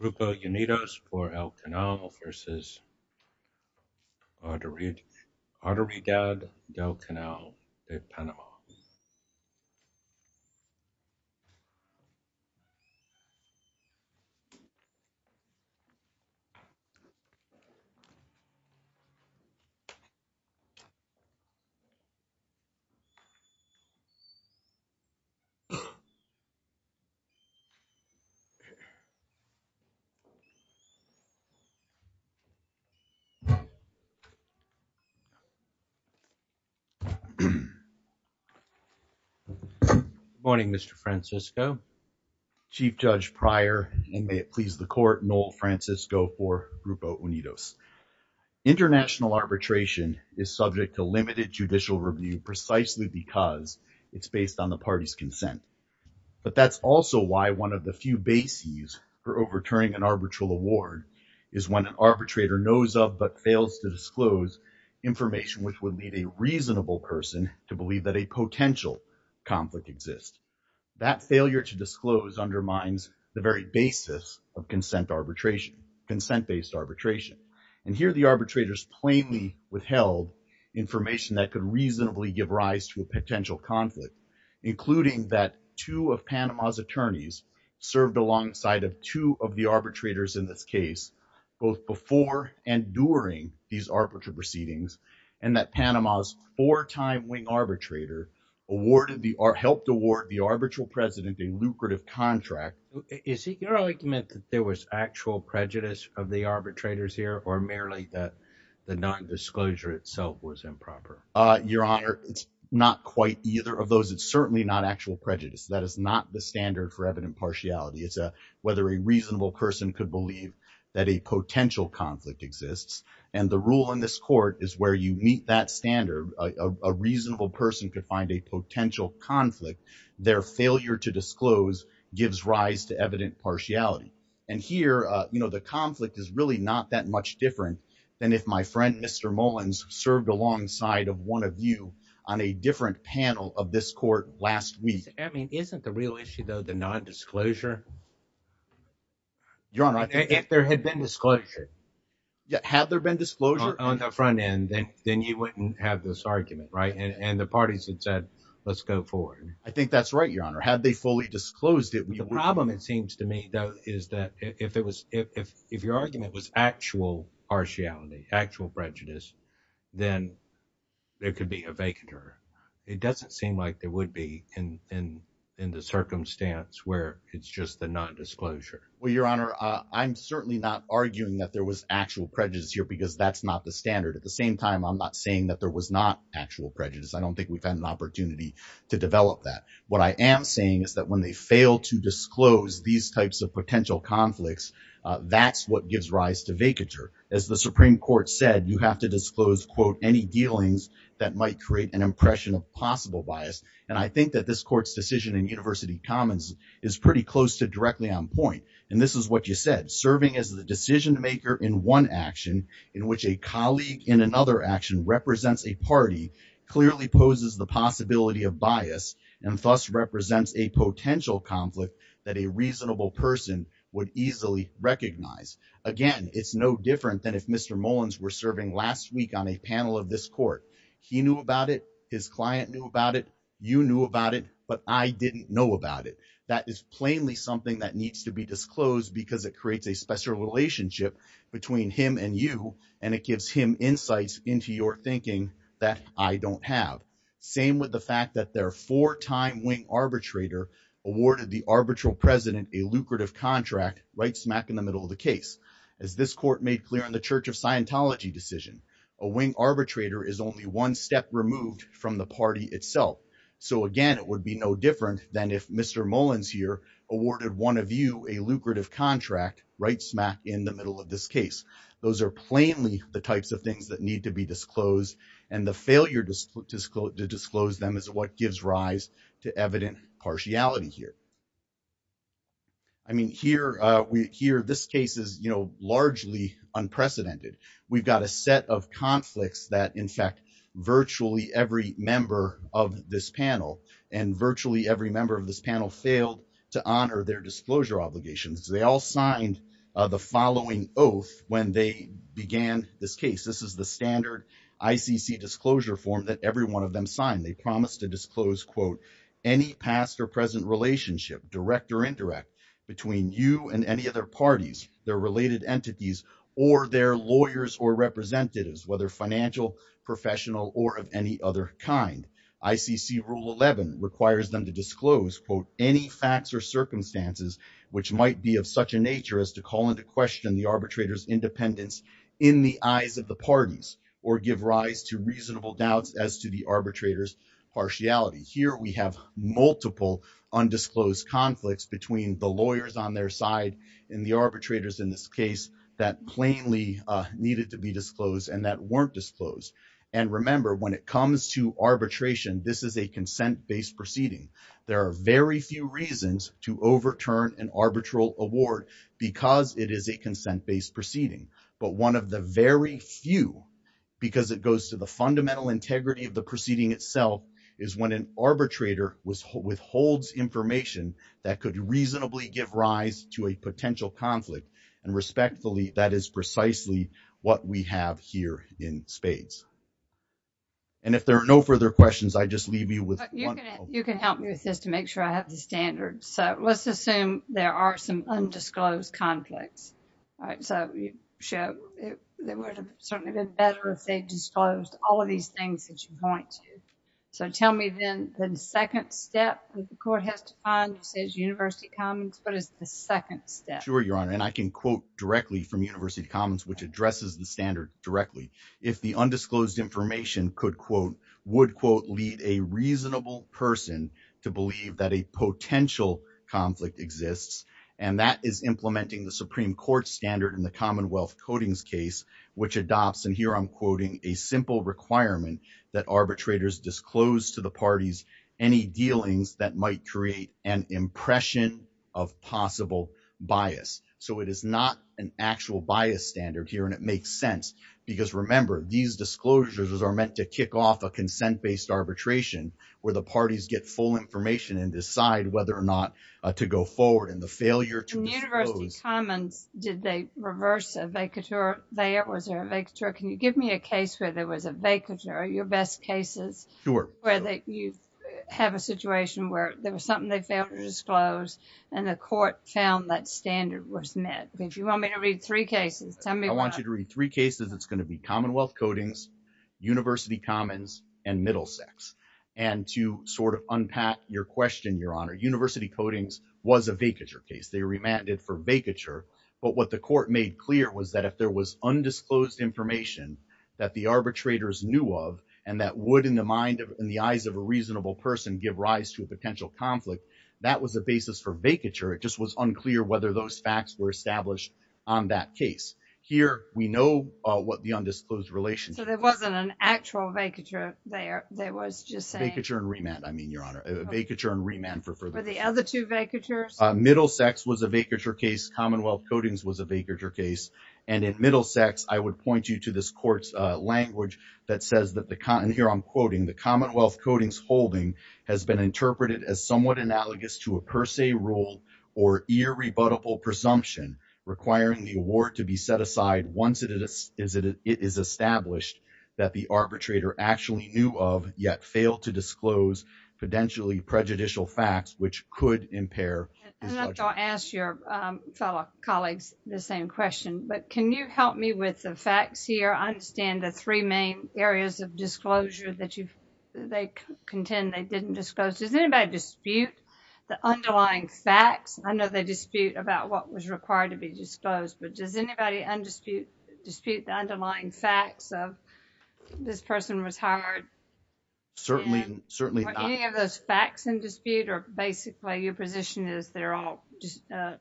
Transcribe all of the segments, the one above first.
F.P. Davis, S.A. E. I. S. J. E. S. S. S. S. S. S. S. S. S. S. S. S. S. S. S. Good morning, Mr Francisco. Chief Judge Pryor and may it please the court, Noel Francisco for Grupo Unidos. International arbitration is subject to limited judicial review precisely because it's based on the party's consent. But that's also why one of the few bases for overturning an arbitral award is when an arbitrator knows of but fails to disclose information which would lead a reasonable person to believe that a potential conflict exists. That failure to disclose undermines the very basis of consent arbitration, consent-based arbitration. And here the arbitrators plainly withheld information that could reasonably give rise to a potential conflict, including that two of Panama's attorneys served alongside of two of the arbitrators in this case, both before and during these arbitral proceedings, and that Panama's four-time wing arbitrator awarded the or helped award the arbitral president a lucrative contract. Is it your argument that there was actual prejudice of the arbitrators here or merely that the non-disclosure itself was improper? Your Honor, it's not quite either of those. It's certainly not actual prejudice. That is not the standard for evident partiality. It's whether a reasonable person could believe that a potential conflict exists. And the rule in this court is where you meet that standard, a reasonable person could find a potential conflict. Their failure to disclose gives rise to evident partiality. And here, you know, the conflict is really not that much different than if my friend, Mr. Mullins, served alongside of one of you on a different panel of this court last week. I mean, isn't the real issue, though, the non-disclosure? Your Honor, if there had been disclosure. Had there been disclosure? On the front end, then you wouldn't have this argument, right? And the parties had said, let's go forward. I think that's right, Your Honor. Had they fully disclosed it. The problem, it seems to me, though, is that if it was if your argument was actual partiality, actual prejudice, then there could be a vacant. It doesn't seem like there would be in the circumstance where it's just the non-disclosure. Well, Your Honor, I'm certainly not arguing that there was actual prejudice here because that's not the standard. At the same time, I'm not saying that there was not actual prejudice. I don't think we've had an opportunity to develop that. What I am saying is that when they fail to disclose these types of potential conflicts, that's what gives rise to vacature. As the Supreme Court said, you have to disclose, quote, any dealings that might create an impression of possible bias. And I think that this court's decision in University Commons is pretty close to directly on point. And this is what you said, serving as the decision maker in one action, in which a colleague in another action represents a party, clearly poses the possibility of bias and thus represents a potential conflict that a reasonable person would easily recognize. Again, it's no different than if Mr. Mullins were serving last week on a panel of this court. He knew about it. His client knew about it. You knew about it. But I didn't know about it. That is plainly something that needs to be disclosed because it creates a special relationship between him and you, and it gives him insights into your thinking that I don't have. Same with the fact that their four-time wing arbitrator awarded the arbitral president a lucrative contract right smack in the middle of the case. As this court made clear in the Church of Scientology decision, a wing arbitrator is only one step removed from the party itself. So again, it would be no different than if Mr. Mullins here awarded one of you a lucrative contract right smack in the middle of this case. Those are plainly the types of things that need to be disclosed, and the failure to disclose them is what gives rise to evident partiality here. I mean, here, this case is largely unprecedented. We've got a set of conflicts that, in fact, virtually every member of this panel and virtually every member of this panel failed to honor their disclosure obligations. They all signed the following oath when they began this case. This is the standard ICC disclosure form that every one of them signed. They promised to disclose, quote, any past or present relationship, direct or indirect, between you and any other parties, their related entities, or their lawyers or representatives, whether financial, professional, or of any other kind. ICC Rule 11 requires them to disclose, quote, any facts or circumstances which might be of such a nature as to call into question the arbitrator's independence in the eyes of the parties or give rise to reasonable doubts as to the arbitrator's partiality. Here, we have multiple undisclosed conflicts between the lawyers on their side and the arbitrators in this case that plainly needed to be disclosed and that weren't disclosed. And remember, when it comes to arbitration, this is a consent-based proceeding. There are very few reasons to overturn an arbitral award because it is a consent-based proceeding. But one of the very few, because it goes to the fundamental integrity of the proceeding itself, is when an arbitrator withholds information that could reasonably give rise to a potential conflict. And respectfully, that is precisely what we have here in spades. And if there are further questions, I just leave you with one. You can help me with this to make sure I have the standards. So, let's assume there are some undisclosed conflicts. All right. So, it would have certainly been better if they disclosed all of these things that you point to. So, tell me then the second step that the court has to find that says University Commons, what is the second step? Sure, Your Honor. And I can quote directly from University Commons, which addresses the standard directly. If the undisclosed information could, quote, would, quote, lead a reasonable person to believe that a potential conflict exists, and that is implementing the Supreme Court standard in the Commonwealth Codings case, which adopts, and here I'm quoting, a simple requirement that arbitrators disclose to the parties any dealings that might create an impression of possible bias. So, it is not an actual bias standard here, and it makes sense. Because, remember, these disclosures are meant to kick off a consent-based arbitration where the parties get full information and decide whether or not to go forward. And the failure to disclose… In University Commons, did they reverse a vacatur there? Was there a vacatur? Can you give me a case where there was a vacatur? Are your best cases where you have a situation where there was something they failed to disclose and the court found that standard was met? Because you want me to read three cases. Tell me why. I want you to read three cases. It's going to be Commonwealth Codings, University Commons, and Middlesex. And to sort of unpack your question, Your Honor, University Codings was a vacatur case. They remanded for vacatur. But what the court made clear was that if there was undisclosed information that the arbitrators knew of, and that would, in the eyes of a reasonable person, give rise to a potential conflict, that was a basis for vacatur. It just was unclear whether those facts were established on that case. Here, we know what the undisclosed relation… So there wasn't an actual vacatur there. There was just saying… Vacatur and remand, I mean, Your Honor. Vacatur and remand for further… For the other two vacaturs? Middlesex was a vacatur case. Commonwealth Codings was a vacatur case. And at Middlesex, I would point you to this court's language that says that the… And here I'm quoting, the Commonwealth Codings holding has been interpreted as somewhat analogous to a per se rule or irrebuttable presumption requiring the award to be set aside once it is established that the arbitrator actually knew of, yet failed to disclose potentially prejudicial facts, which could impair… I'm going to ask your fellow colleagues the same question. But can you help me with the facts here? I understand the three main areas of disclosure that you've… They contend they didn't disclose. Does anybody dispute the underlying facts? I know they dispute about what was required to be disclosed, but does anybody dispute the underlying facts of this person was hired? Certainly, certainly not. Were any of those facts in dispute or basically your position is they're all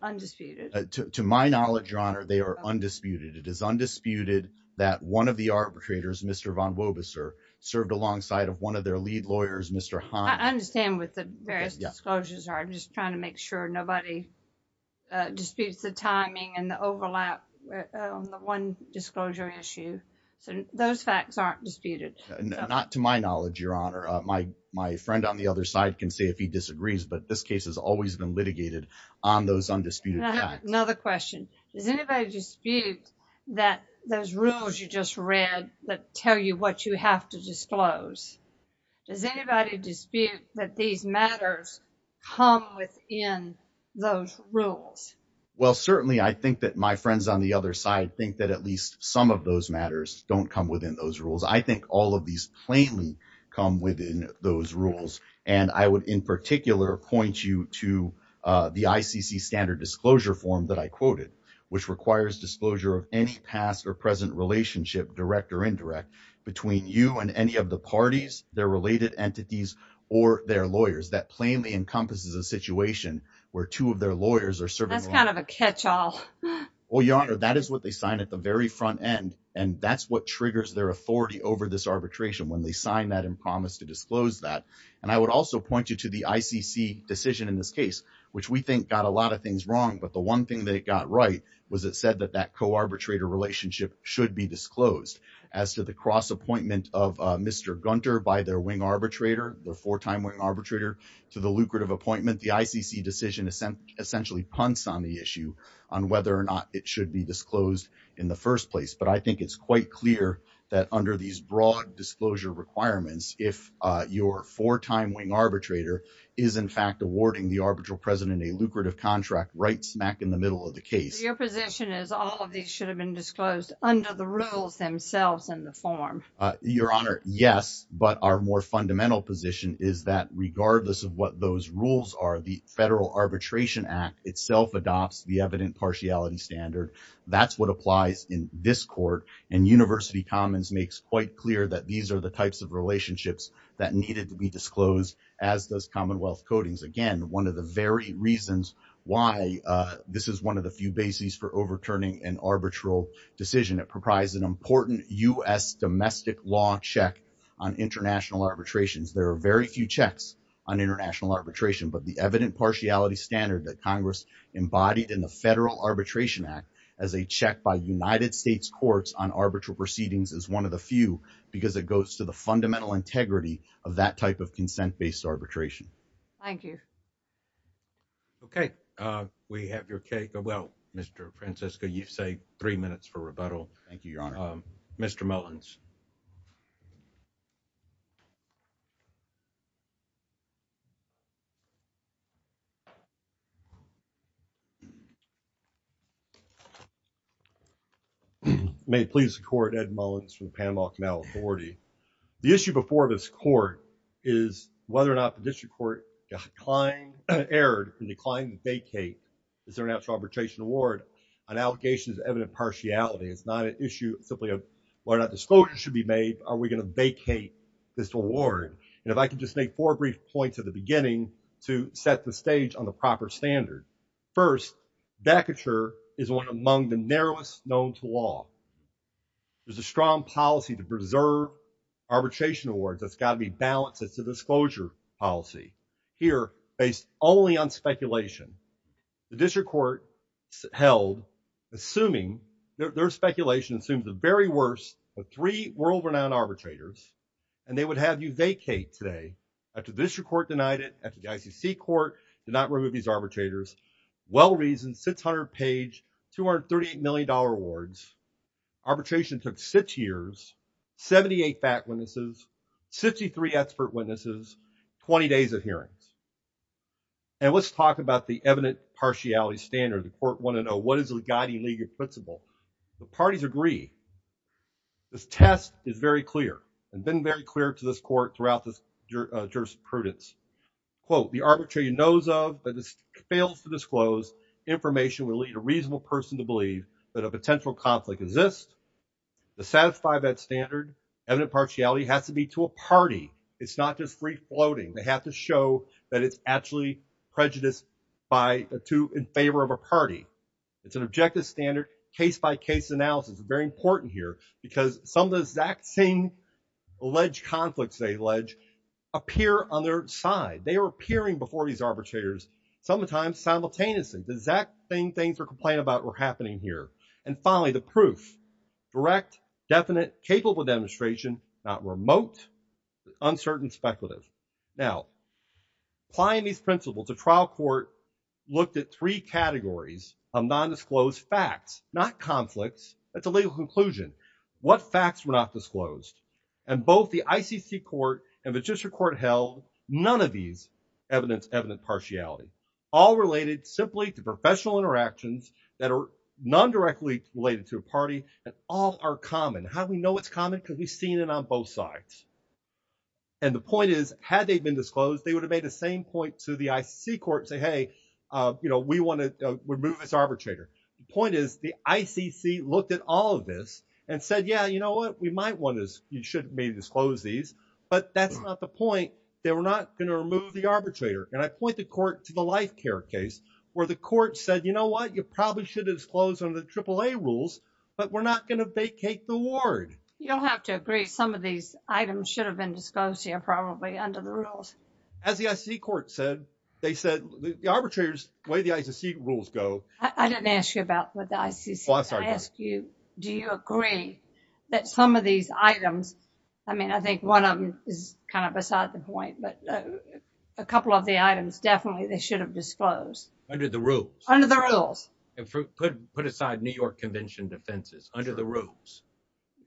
undisputed? To my knowledge, Your Honor, they are undisputed. It is undisputed that one of the arbitrators, Mr. Von Wobiser, served alongside of one of their lead lawyers, Mr. Hines. I understand what the various disclosures are. I'm just trying to make sure nobody disputes the timing and the overlap on the one disclosure issue. So those facts aren't disputed. Not to my knowledge, Your Honor. My friend on the other side can say if he disagrees, but this case has always been litigated on those undisputed facts. Another question. Does anybody dispute that those rules you just read that tell you what you have to disclose? Does anybody dispute that these matters come within those rules? Well, certainly, I think that my friends on the other side think that at least some of those matters don't come within those rules. I think all of these plainly come within those rules. And I would, in particular, point you to the ICC standard disclosure form that I quoted, which requires disclosure of any past or present relationship, direct or indirect, between you and any of the parties, their related entities, or their lawyers. That plainly encompasses a situation where two of their lawyers are serving. That's kind of a catch-all. Well, Your Honor, that is what they sign at the very front end. And that's what triggers their authority over this arbitration when they sign that and promise to disclose that. And I would also point you to the ICC decision in this case, which we think got a lot of things wrong. But the one thing that it got right was it said that that co-arbitrator relationship should be disclosed. As to the cross-appointment of Mr. Gunter by their wing arbitrator, the four-time wing arbitrator, to the lucrative appointment, the ICC decision essentially punts on the issue on whether or not it should be disclosed in the first place. But I think it's quite clear that under these broad disclosure requirements, if your four-time wing arbitrator is in fact awarding the arbitral president a lucrative contract right smack in the middle of the case. Your position is all of these should have been disclosed under the rules themselves in the form. Your Honor, yes. But our more fundamental position is that regardless of what those rules are, the Federal Arbitration Act itself adopts the evident partiality standard. That's what applies in this court. And University Commons makes quite clear that these are the types of relationships that needed to be disclosed as does Commonwealth Codings. Again, one of the very reasons why this is one of the few bases for overturning an arbitral decision. It proprised an important U.S. domestic law check on international arbitrations. There are very few checks on international arbitration, but the evident partiality standard that Congress embodied in the Federal Arbitration Act as a check by United States courts on arbitral proceedings is one of the few because it goes to the fundamental integrity of that type of consent-based arbitration. Thank you. Okay. We have your cake. Well, Mr. Francesca, you say three minutes for rebuttal. Thank you, Your Honor. Mr. Mullins. May it please the Court, Ed Mullins from the Panama Canal Authority. The issue before this court is whether or not the district court got inclined, erred, and declined to vacate its international arbitration award. An allegation is evident partiality. It's not an issue simply of whether or not disclosure should be made. Are we going to vacate this award? And if I could just make four brief points at the beginning to set the stage on the proper standard. First, vacature is one among the narrowest known to law. There's a strong policy to preserve arbitration awards. That's got to be balanced. It's a disclosure policy. Here, based only on speculation, the district court held, assuming, their speculation assumed the very worst of three world-renowned arbitrators, and they would have you vacate today after district court denied it, the ICC court did not remove these arbitrators. Well-reasoned, 600-page, $238 million awards. Arbitration took six years, 78 fact witnesses, 63 expert witnesses, 20 days of hearings. And let's talk about the evident partiality standard. The Court want to know what is the guiding legal principle. The parties agree. This test is very clear and been very clear to this court throughout this jurisprudence. Quote, the arbitrator knows of, but fails to disclose information will lead a reasonable person to believe that a potential conflict exists. To satisfy that standard, evident partiality has to be to a party. It's not just free-floating. They have to show that it's actually prejudiced in favor of a party. It's an objective standard. Case-by-case analysis is very important here because some of the exact same alleged conflicts they allege appear on their side. They were appearing before these arbitrators sometimes simultaneously. The exact same things were complained about were happening here. And finally, the proof, direct, definite, capable demonstration, not remote, uncertain, speculative. Now, applying these principles, the trial court looked at three categories of nondisclosed facts, not conflicts. That's a legal conclusion. What facts were not disclosed? And both the ICC Court and Magistrate Court held none of these evidence evident partiality, all related simply to professional interactions that are non-directly related to a party and all are common. How do we know it's common? Because we've seen it on both sides. And the point is, had they been disclosed, they would have made the same point to the ICC Court and say, hey, we want to remove this arbitrator. The point is, the ICC looked at all of this and said, yeah, you know what? We might want to, you should maybe disclose these, but that's not the point. They were not going to remove the arbitrator. And I point the court to the life care case where the court said, you know what? You probably should have disclosed on the AAA rules, but we're not going to vacate the ward. You'll have to agree. Some of these items should have been disclosed here probably under the rules. As the ICC Court said, they said the arbitrators, the way the ICC rules go. I didn't ask you about what the ICC said. I asked you, do you agree that some of these items, I mean, I think one of them is kind of beside the point, but a couple of the items definitely they should have disclosed. Under the rules. Under the rules. And put aside New York Convention defenses. Under the rules.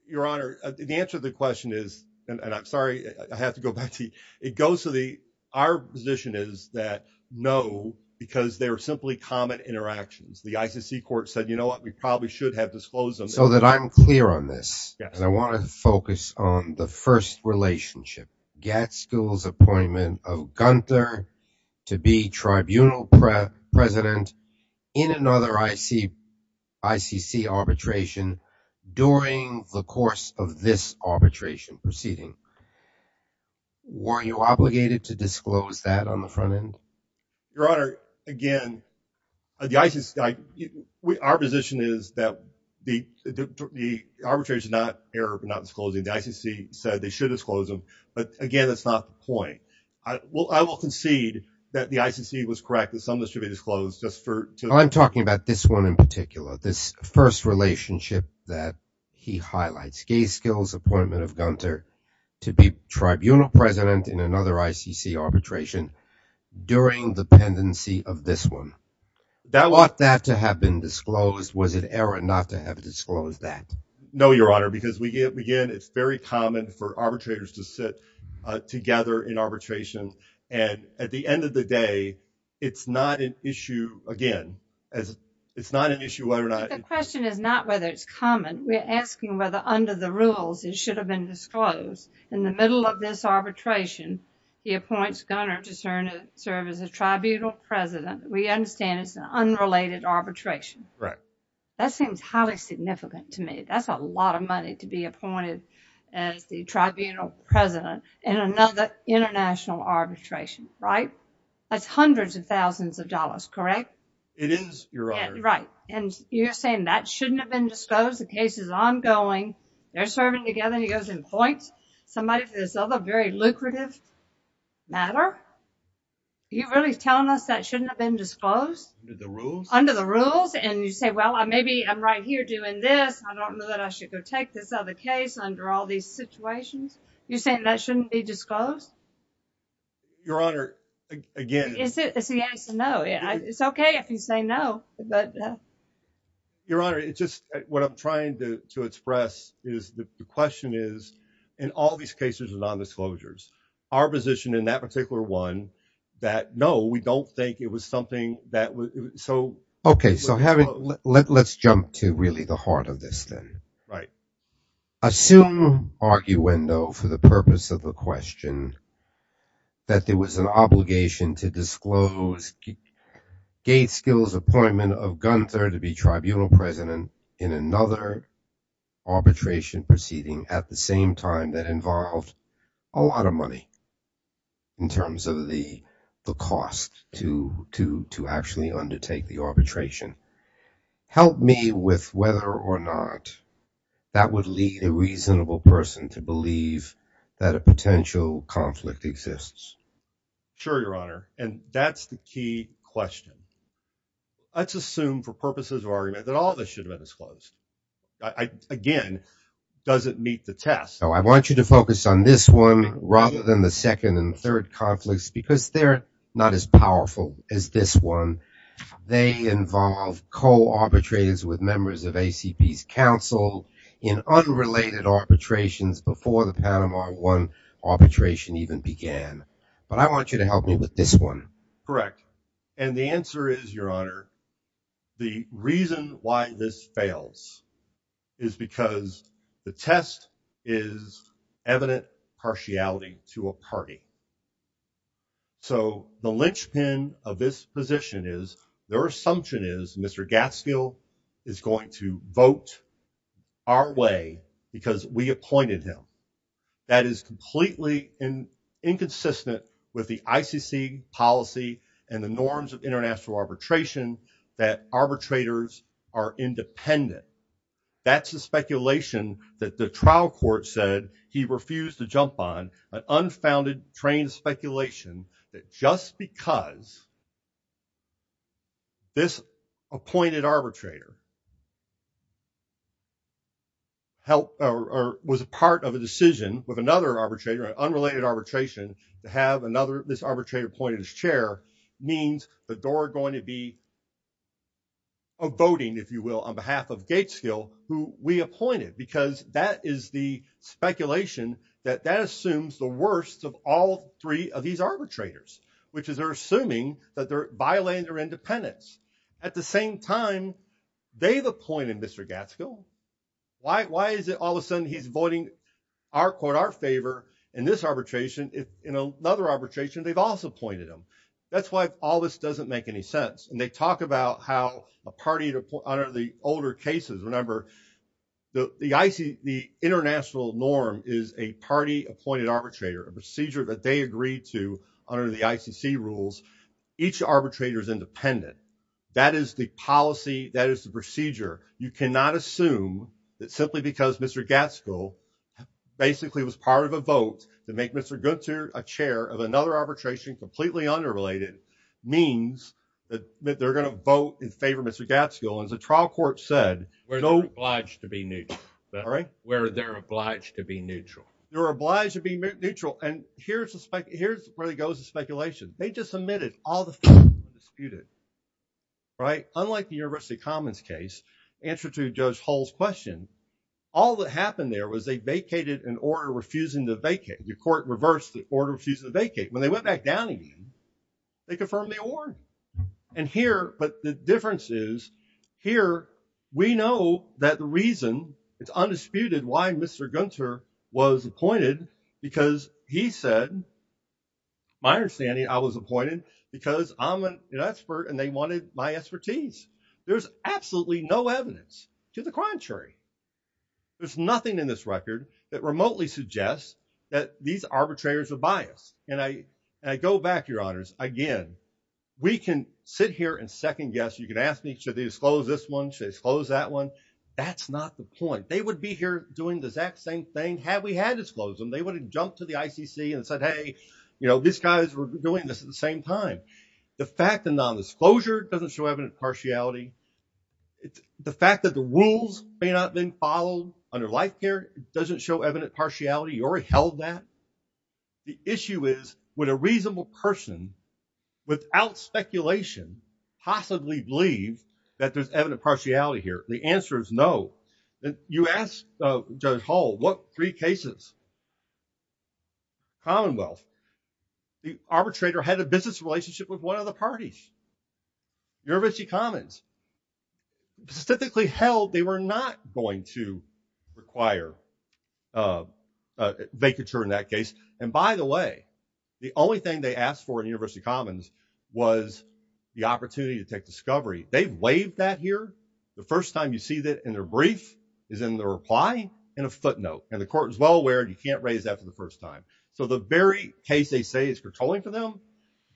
Your Honor, the answer to the question is, and I'm sorry, I have to go back to you. It goes to the, our position is that no, because they're simply common interactions. The ICC Court said, you know what? We probably should have disclosed them. So that I'm clear on this. And I want to focus on the first relationship. Gadskill's appointment of Gunther to be tribunal president in another ICC arbitration during the course of this arbitration proceeding. Were you obligated to disclose that on the front end? Your Honor, again, the ICC, our position is that the arbitrators are not, they're not disclosing. The ICC said they should disclose them. But again, that's not the point. Well, I will concede that the ICC was correct that some of this should be disclosed just for. I'm talking about this one in particular, this first relationship that he highlights. Gadskill's appointment of Gunther to be tribunal president in another ICC arbitration during the pendency of this one. That ought that to have been disclosed. Was it error not to have disclosed that? No, Your Honor, because again, it's very common for arbitrators to sit together in arbitration. And at the end of the day, it's not an issue, again, it's not an issue whether or not. The question is not whether it's common. We're asking whether under the rules it should have been disclosed. In the middle of this arbitration, he appoints Gunther to serve as a tribunal president. We understand it's an unrelated arbitration. That seems highly significant to me. That's a lot of money to be appointed as the tribunal president in another international arbitration, right? That's hundreds of thousands of dollars, correct? It is, Your Honor. Right. And you're saying that shouldn't have been disclosed. The case is ongoing. They're serving together. He goes and points somebody for this other very lucrative matter. Are you really telling us that shouldn't have been disclosed? Under the rules. And you say, well, maybe I'm right here doing this. I don't know that I should go take this other case under all these situations. You're saying that shouldn't be disclosed? Your Honor, again. Is it a yes or no? It's okay if you say no, but. Your Honor, it's just what I'm trying to express is the question is, in all these cases of non-disclosures, our position in that particular one, that no, we don't think it was something that was so... Okay, so let's jump to really the heart of this then. Right. Assume, arguendo, for the purpose of the question, that there was an obligation to disclose Gaitskill's appointment of Gunther to be tribunal president in another arbitration proceeding at the same time that involved a lot of money in terms of the cost to actually undertake the arbitration. Help me with whether or not that would lead a reasonable person to believe that a potential conflict exists. Sure, Your Honor. And that's the key question. Let's assume for purposes of argument that all of this should have been disclosed. Again, does it meet the test? I want you to focus on this one rather than the second and third conflicts because they're not as powerful as this one. They involve co-arbitrators with members of ACP's council in unrelated arbitrations before the Panama 1 arbitration even began. But I want you to help me with this one. And the answer is, Your Honor, the reason why this fails is because the test is evident partiality to a party. So the linchpin of this position is their assumption is Mr. Gaitskill is going to vote our way because we appointed him. That is completely inconsistent with the ICC policy and the norms of international arbitration that arbitrators are independent. That's a speculation that the trial court said he refused to jump on an unfounded trial train speculation that just because this appointed arbitrator helped or was a part of a decision with another arbitrator, an unrelated arbitration, to have another this arbitrator appointed as chair means the door going to be a voting, if you will, on behalf of Gaitskill who we appointed because that is the speculation that that assumes the worst of all three of these arbitrators, which is they're assuming that they're violating their independence. At the same time, they've appointed Mr. Gaitskill. Why is it all of a sudden he's voting our favor in this arbitration if in another arbitration they've also appointed him? That's why all this doesn't make any sense. And they talk about how a party to honor the older cases. Remember, the international norm is a party appointed arbitrator, a procedure that they agreed to under the ICC rules. Each arbitrator is independent. That is the policy. That is the procedure. You cannot assume that simply because Mr. Gaitskill basically was part of a vote to make Mr. Gunther a chair of another arbitration completely unrelated means that they're going to vote in favor of Mr. Gaitskill. And the trial court said we're not obliged to be neutral. All right. Where they're obliged to be neutral. They're obliged to be neutral. And here's where it goes to speculation. They just omitted all the disputed. Right. Unlike the University Commons case, answer to Judge Hall's question, all that happened there was they vacated an order refusing to vacate. The court reversed the order refusing to vacate. When they went back down again, they confirmed the award. And here, but the difference is here, we know that the reason it's undisputed why Mr. Gunther was appointed because he said. My understanding, I was appointed because I'm an expert and they wanted my expertise. There's absolutely no evidence to the contrary. There's nothing in this record that remotely suggests that these arbitrators are biased. And I go back, Your Honors, again, we can sit here and second guess. You can ask me, should they disclose this one? Should they disclose that one? That's not the point. They would be here doing the exact same thing. Had we had disclosed them, they would have jumped to the ICC and said, hey, you know, these guys were doing this at the same time. The fact that non-disclosure doesn't show evident partiality. The fact that the rules may not have been followed under life care doesn't show evident partiality or held that. The issue is, would a reasonable person without speculation possibly believe that there's evident partiality here? The answer is no. You ask Judge Hall, what three cases? Commonwealth. The arbitrator had a business relationship with one of the parties. University Commons. Specifically held they were not going to require vacature in that case. And by the way, the only thing they asked for in University Commons was the opportunity to take discovery. They waived that here. The first time you see that in their brief is in the reply in a footnote. And the court is well aware you can't raise that for the first time. So the very case they say is controlling for them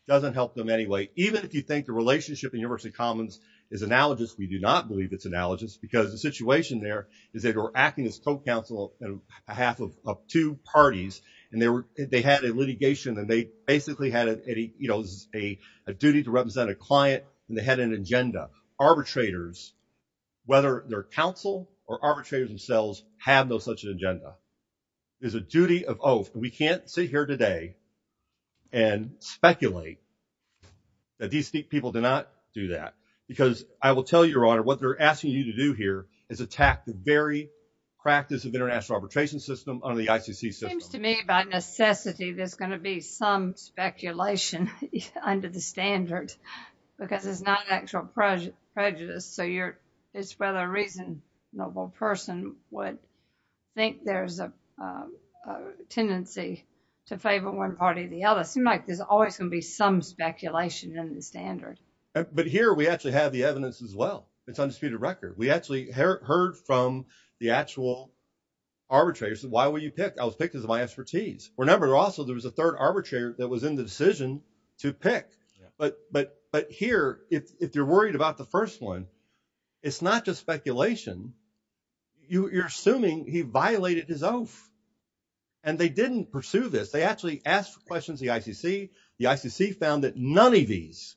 doesn't help them anyway. Even if you think the relationship in University Commons is analogous, we do not believe it's analogous because the situation there is that we're acting as co-counsel on behalf of two parties and they had a litigation and they basically had a duty to represent a client and they had an agenda. Arbitrators, whether they're counsel or arbitrators themselves, have no such agenda. There's a duty of oath. We can't sit here today and speculate that these people did not do that because I will tell your honor what they're asking you to do here is attack the very practice of international arbitration system under the ICC system. It seems to me by necessity there's going to be some speculation under the standard because it's not an actual prejudice. So it's rather a reasonable person would think there's a tendency to favor one party or the other. It seems like there's always going to be some speculation in the standard. But here we actually have the evidence as well. It's undisputed record. We actually heard from the actual arbitrators. Why would you pick? I was picked as my expertise. Remember also there was a third arbitrator that was in the decision to pick. But here if you're worried about the first one, it's not just speculation. You're assuming he violated his oath and they didn't pursue this. They actually asked questions of the ICC. The ICC found that none of these.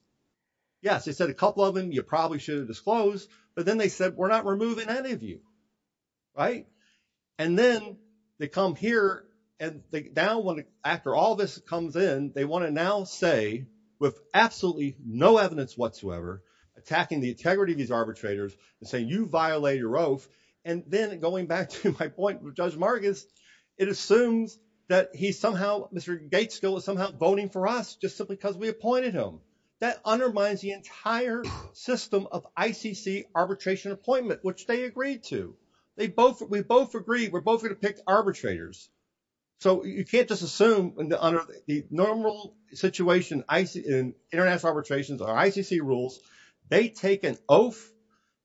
Yes, they said a couple of them you probably should have disclosed. But then they said we're not removing any of you. Right. And then they come here and now after all this comes in, they want to now say with absolutely no evidence whatsoever attacking the integrity of these arbitrators and say, you violate your oath. And then going back to my point with Judge Marcus, it assumes that he's somehow Mr. Gates still is somehow voting for us just simply because we appointed him. That undermines the entire system of ICC arbitration appointment, which they agreed to. They both we both agree. We're both going to pick arbitrators. So you can't just assume under the normal situation in international arbitrations or ICC rules, they take an oath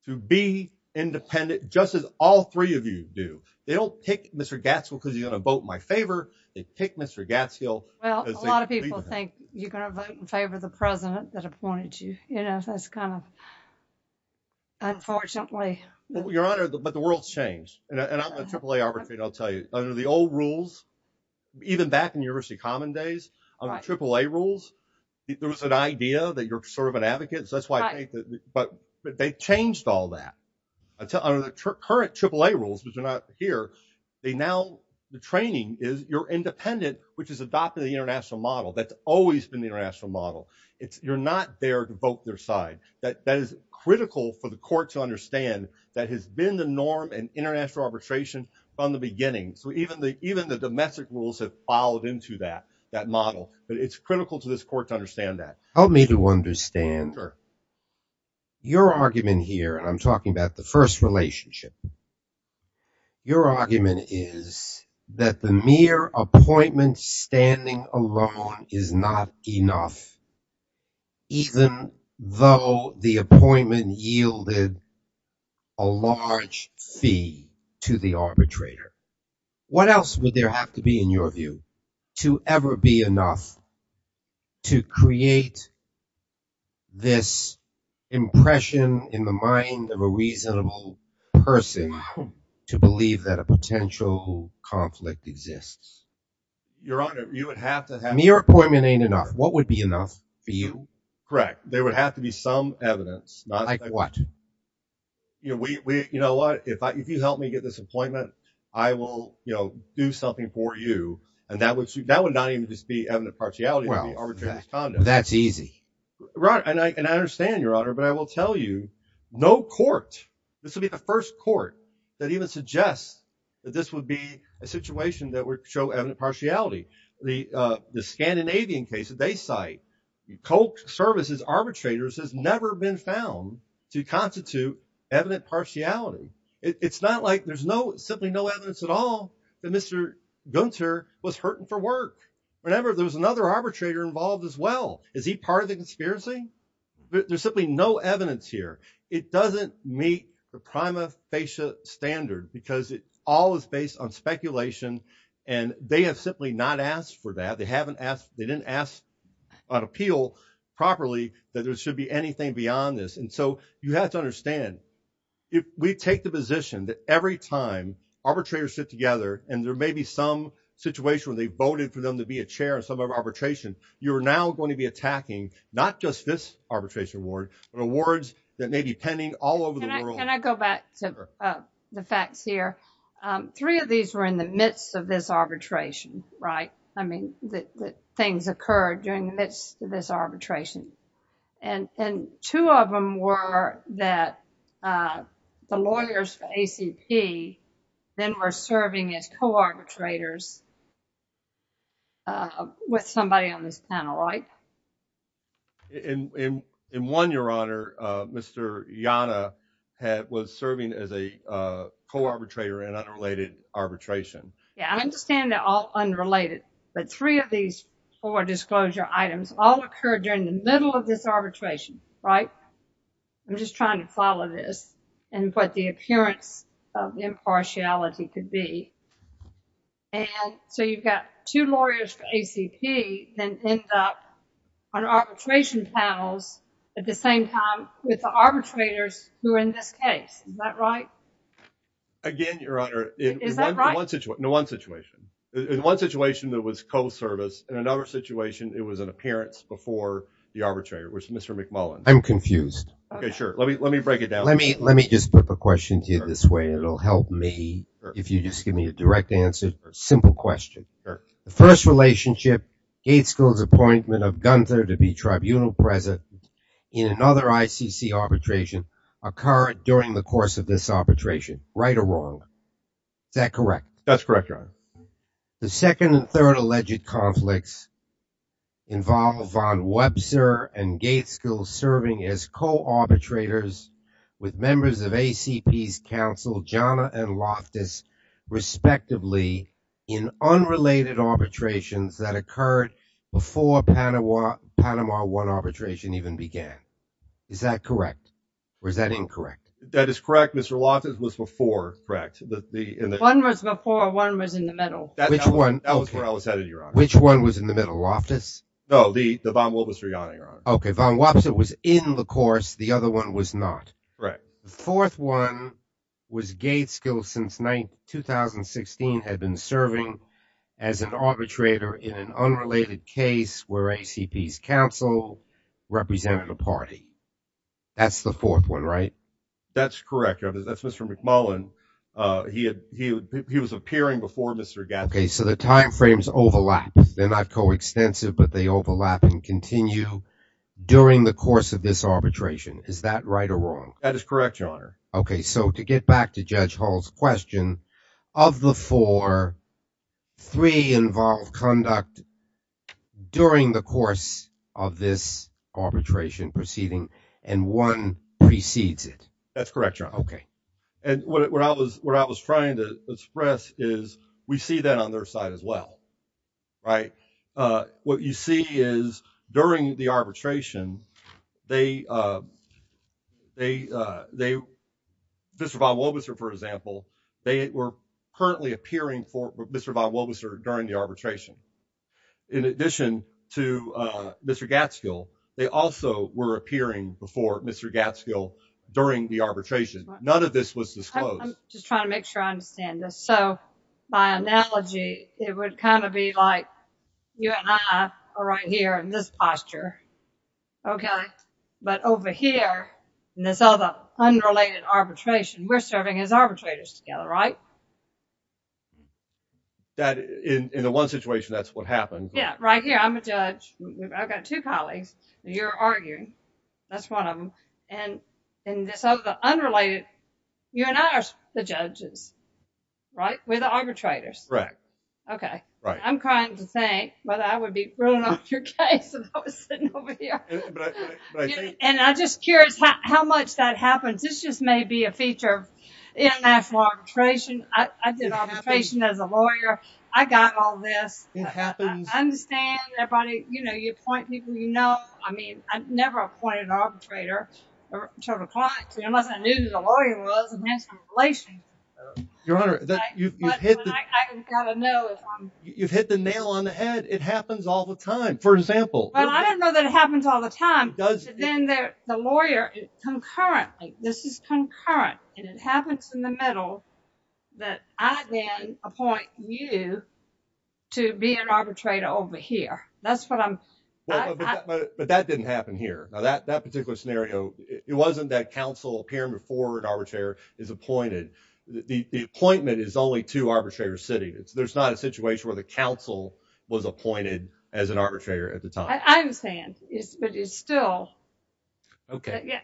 to be independent, just as all three of you do. They don't pick Mr. Gatsby because you're going to vote in my favor. They pick Mr. Gatsby. Well, a lot of people think you're going to vote in favor of the president that appointed you. You know, that's kind of. Unfortunately, your honor, but the world's changed and I'm going to play arbitrate, under the old rules, even back in university common days, on the triple A rules, there was an idea that you're sort of an advocate. So that's why, but they changed all that until under the current triple A rules, which are not here. They now the training is you're independent, which is adopting the international model. That's always been the international model. It's you're not there to vote their side. That is critical for the court to understand that has been the norm and international arbitration from the beginning. So even the, even the domestic rules have followed into that, that model, but it's critical to this court to understand that. Help me to understand your argument here. And I'm talking about the first relationship. Your argument is that the mere appointment standing alone is not enough. Even though the appointment yielded a large fee to the arbitrator, what else would there have to be in your view to ever be enough to create this impression in the mind of a reasonable person to believe that a potential conflict exists? Your honor, you would have to have your appointment ain't enough. What would be enough for you? Correct. There would have to be some evidence like what, you know, we, we, you know what, if I, if you help me get this appointment, I will, you know, do something for you. And that would, that would not even just be evident partiality. That's easy. Right. And I, and I understand your honor, but I will tell you no court. This will be the first court that even suggests that this would be a situation that would show evident partiality. The, uh, the Scandinavian case that they cite cold services arbitrators has never been found to constitute evident partiality. It's not like there's no, simply no evidence at all that Mr. Gunter was hurting for work. Remember there was another arbitrator involved as well. Is he part of the conspiracy? There's simply no evidence here. It doesn't meet the prima facie standard because it all is based on speculation and they have simply not asked for that. They haven't asked, they didn't ask an appeal properly that there should be anything beyond this. And so you have to understand if we take the position that every time arbitrators sit together and there may be some situation where they voted for them to be a chair and some of our arbitration, you're now going to be attacking, not just this arbitration award, but awards that may be pending all over the world. I go back to the facts here. Three of these were in the midst of this arbitration, right? I mean that things occurred during the midst of this arbitration. And two of them were that the lawyers for ACP then were serving as co-arbitrators with somebody on this panel, right? In one, your honor, Mr. Yana was serving as a co-arbitrator in unrelated arbitration. Yeah, I understand they're all unrelated, but three of these four disclosure items all occurred during the middle of this arbitration, right? I'm just trying to follow this and what the appearance of impartiality could be. And so you've got two lawyers for ACP then end up on arbitration panels at the same time with the arbitrators who are in this case. Is that right? Again, your honor, in one situation that was co-service, in another situation it was an appearance before the arbitrator, which Mr. McMullen. I'm confused. Okay, sure. Let me break it down. Let me just put the question to you this way. It'll help me if you just give me a direct answer or a simple question. The first relationship, Gaetzke's appointment of Gunther to be tribunal president in another ICC arbitration occurred during the course of this arbitration, right or wrong? Is that correct? That's correct, your honor. The second and third alleged conflicts involve von Webster and Gaetzke serving as co-arbitrators with members of ACP's counsel, Gianna and Loftus, respectively in unrelated arbitrations that occurred before Panama 1 arbitration even began. Is that correct or is that incorrect? That is correct. Mr. Loftus was before, correct? One was before, one was in the middle. Which one? That was where I was headed, your honor. Which one was in the middle, Loftus? No, the von Webster, your honor. Okay, von Webster was in the course. The other one was not. Right. The fourth one was Gaetzke, who since 2016 had been serving as an arbitrator in an unrelated case where ACP's counsel represented a party. That's the fourth one, right? That's correct, your honor. That's Mr. McMullen. He was appearing before Mr. Gaetzke. Okay, so the time frames overlap. They're not coextensive, but they overlap and continue during the course of this arbitration. Is that right or wrong? That is correct, your honor. Okay, so to get back to Judge Hall's question, of the four, three involve conduct during the course of this arbitration proceeding and one precedes it. That's correct, your honor. Okay. And what I was trying to express is we see that on their side as well, right? What you see is during the arbitration, Mr. von Webster, for example, they were currently appearing for Mr. von Webster during the arbitration. In addition to Mr. Gaetzke, they also were appearing before Mr. Gaetzke during the arbitration. None of this was disclosed. I'm just trying to make sure I understand this. By analogy, it would kind of be like you and I are right here in this posture, but over here in this other unrelated arbitration, we're serving as arbitrators together, right? That in the one situation, that's what happened. Yeah, right here. I'm a judge. I've got two colleagues. You're arguing. That's one of them. So, the unrelated, you and I are the judges, right? We're the arbitrators. Correct. Okay. I'm trying to think whether I would be ruling off your case if I was sitting over here. And I'm just curious how much that happens. This just may be a feature of international arbitration. I did arbitration as a lawyer. I got all this. It happens. I understand everybody, you appoint people you know. I've never appointed an arbitrator to a client unless I knew who the lawyer was and had some relation. Your Honor, you've hit the nail on the head. It happens all the time. For example. Well, I don't know that it happens all the time, but then the lawyer concurrently, this is concurrent, and it happens in the middle that I then appoint you to be an arbitrator over here. Well, but that didn't happen here. Now, that particular scenario, it wasn't that counsel appeared before an arbitrator is appointed. The appointment is only to arbitrator city. There's not a situation where the counsel was appointed as an arbitrator at the time. I understand, but it's still. Okay.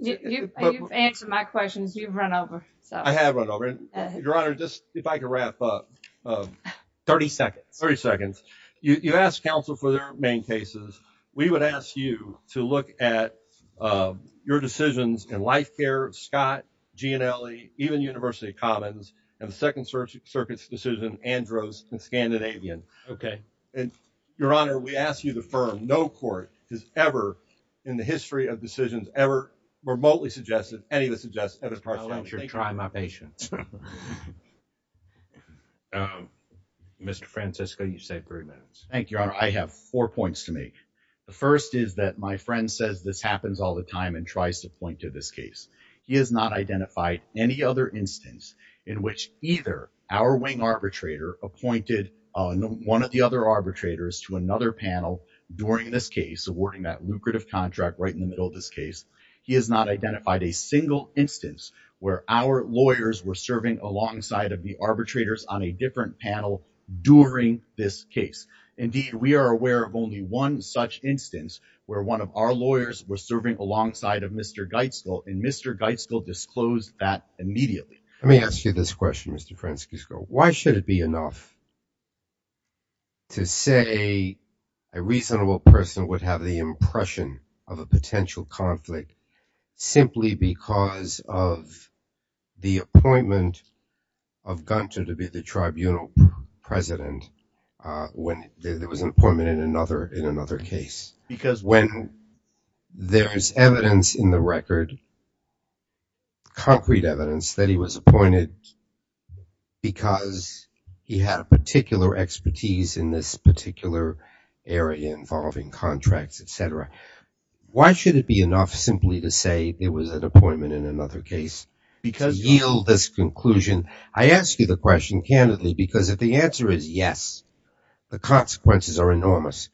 You've answered my questions. You've run over. Your Honor, just if I could wrap up. 30 seconds. 30 seconds. You ask counsel for their main cases. We would ask you to look at your decisions in life care, Scott, G and L, even University Commons and the Second Circuit's decision, Andros and Scandinavian. Okay. And Your Honor, we ask you to firm. No court has ever in the history of decisions ever remotely suggested any of the suggests at a trial. I want you to try my patience. Um, Mr Francisco, you say three minutes. Thank you, Your Honor. I have four points to make. The first is that my friend says this happens all the time and tries to point to this case. He has not identified any other instance in which either our wing arbitrator appointed one of the other arbitrators to another panel during this case, awarding that lucrative contract right in the middle of this case. He has not identified a single instance where our lawyers were serving alongside of the arbitrators on a different panel during this case. Indeed, we are aware of only one such instance where one of our lawyers was serving alongside of Mr Geisler and Mr Geisler disclosed that immediately. Let me ask you this question, Mr Francisco, why should it be enough to say a reasonable person would have the impression of a potential conflict simply because of the appointment of Gunter to be the tribunal president when there was an appointment in another in another case? Because when there is evidence in the record, concrete evidence that he was appointed because he had a particular expertise in this particular area involving contracts, etc. Why should it be enough simply to say there was an appointment in another case? Because yield this conclusion. I ask you the question candidly because if the answer is yes, the consequences are enormous.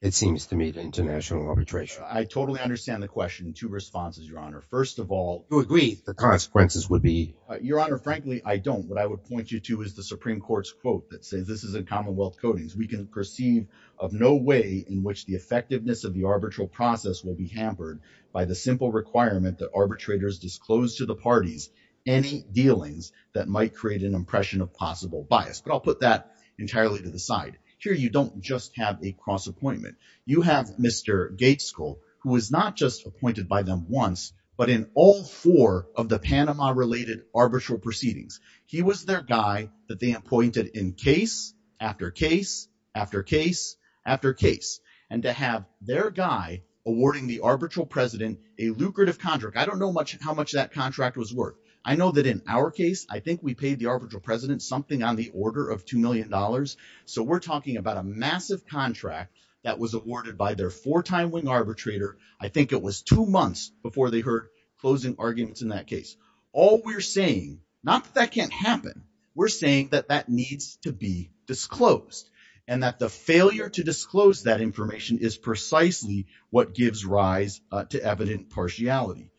It seems to me the international arbitration. I totally understand the question. Two responses, Your Honor. First of all, you agree the consequences would be. Your Honor, frankly, I don't. What I would point you to is the Supreme Court's quote that says this is a commonwealth coatings. We can perceive of no way in which the effectiveness of the arbitral process will be hampered by the simple requirement that arbitrators disclose to the parties any dealings that might create an impression of possible bias. But I'll put that entirely to the side here. You don't just have a cross appointment. You have Mr Gates school who was not just appointed by them once, but in all four of the Panama related arbitral proceedings. He was their guy that they appointed in case after case, after case, after case, and to have their guy awarding the arbitral president a lucrative contract. I don't know how much that contract was worth. I know that in our case, I think we paid the arbitral president something on the order of two million dollars. So we're talking about a massive contract that was awarded by their four time wing arbitrator. I think it was two months before they heard closing arguments in that case. All we're saying, not that that can't happen. We're saying that that needs to be disclosed and that the failure to disclose that information is precisely what gives rise to evident partiality.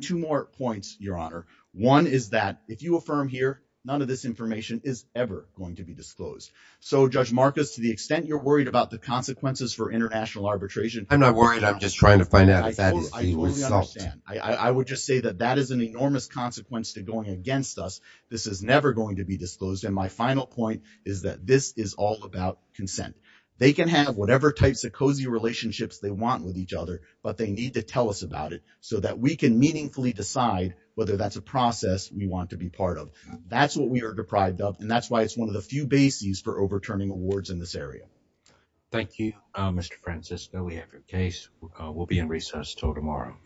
Two more points, Your Honor. One is that if you affirm here, none of this information is ever going to be disclosed. So Judge Marcus, to the extent you're worried about the consequences for international arbitration. I'm not worried. I'm just trying to find out. I totally understand. I would just say that that is an enormous consequence to going against us. This is never going to be disclosed. And my final point is that this is all about consent. They can have whatever types of cozy relationships they want with each other, but they need to tell us about it so that we can meaningfully decide whether that's a process we want to be part of. That's what we are deprived of. And that's why it's one of the few bases for overturning awards in this area. Thank you, Mr. Francisco. We have your case. We'll be in recess till tomorrow.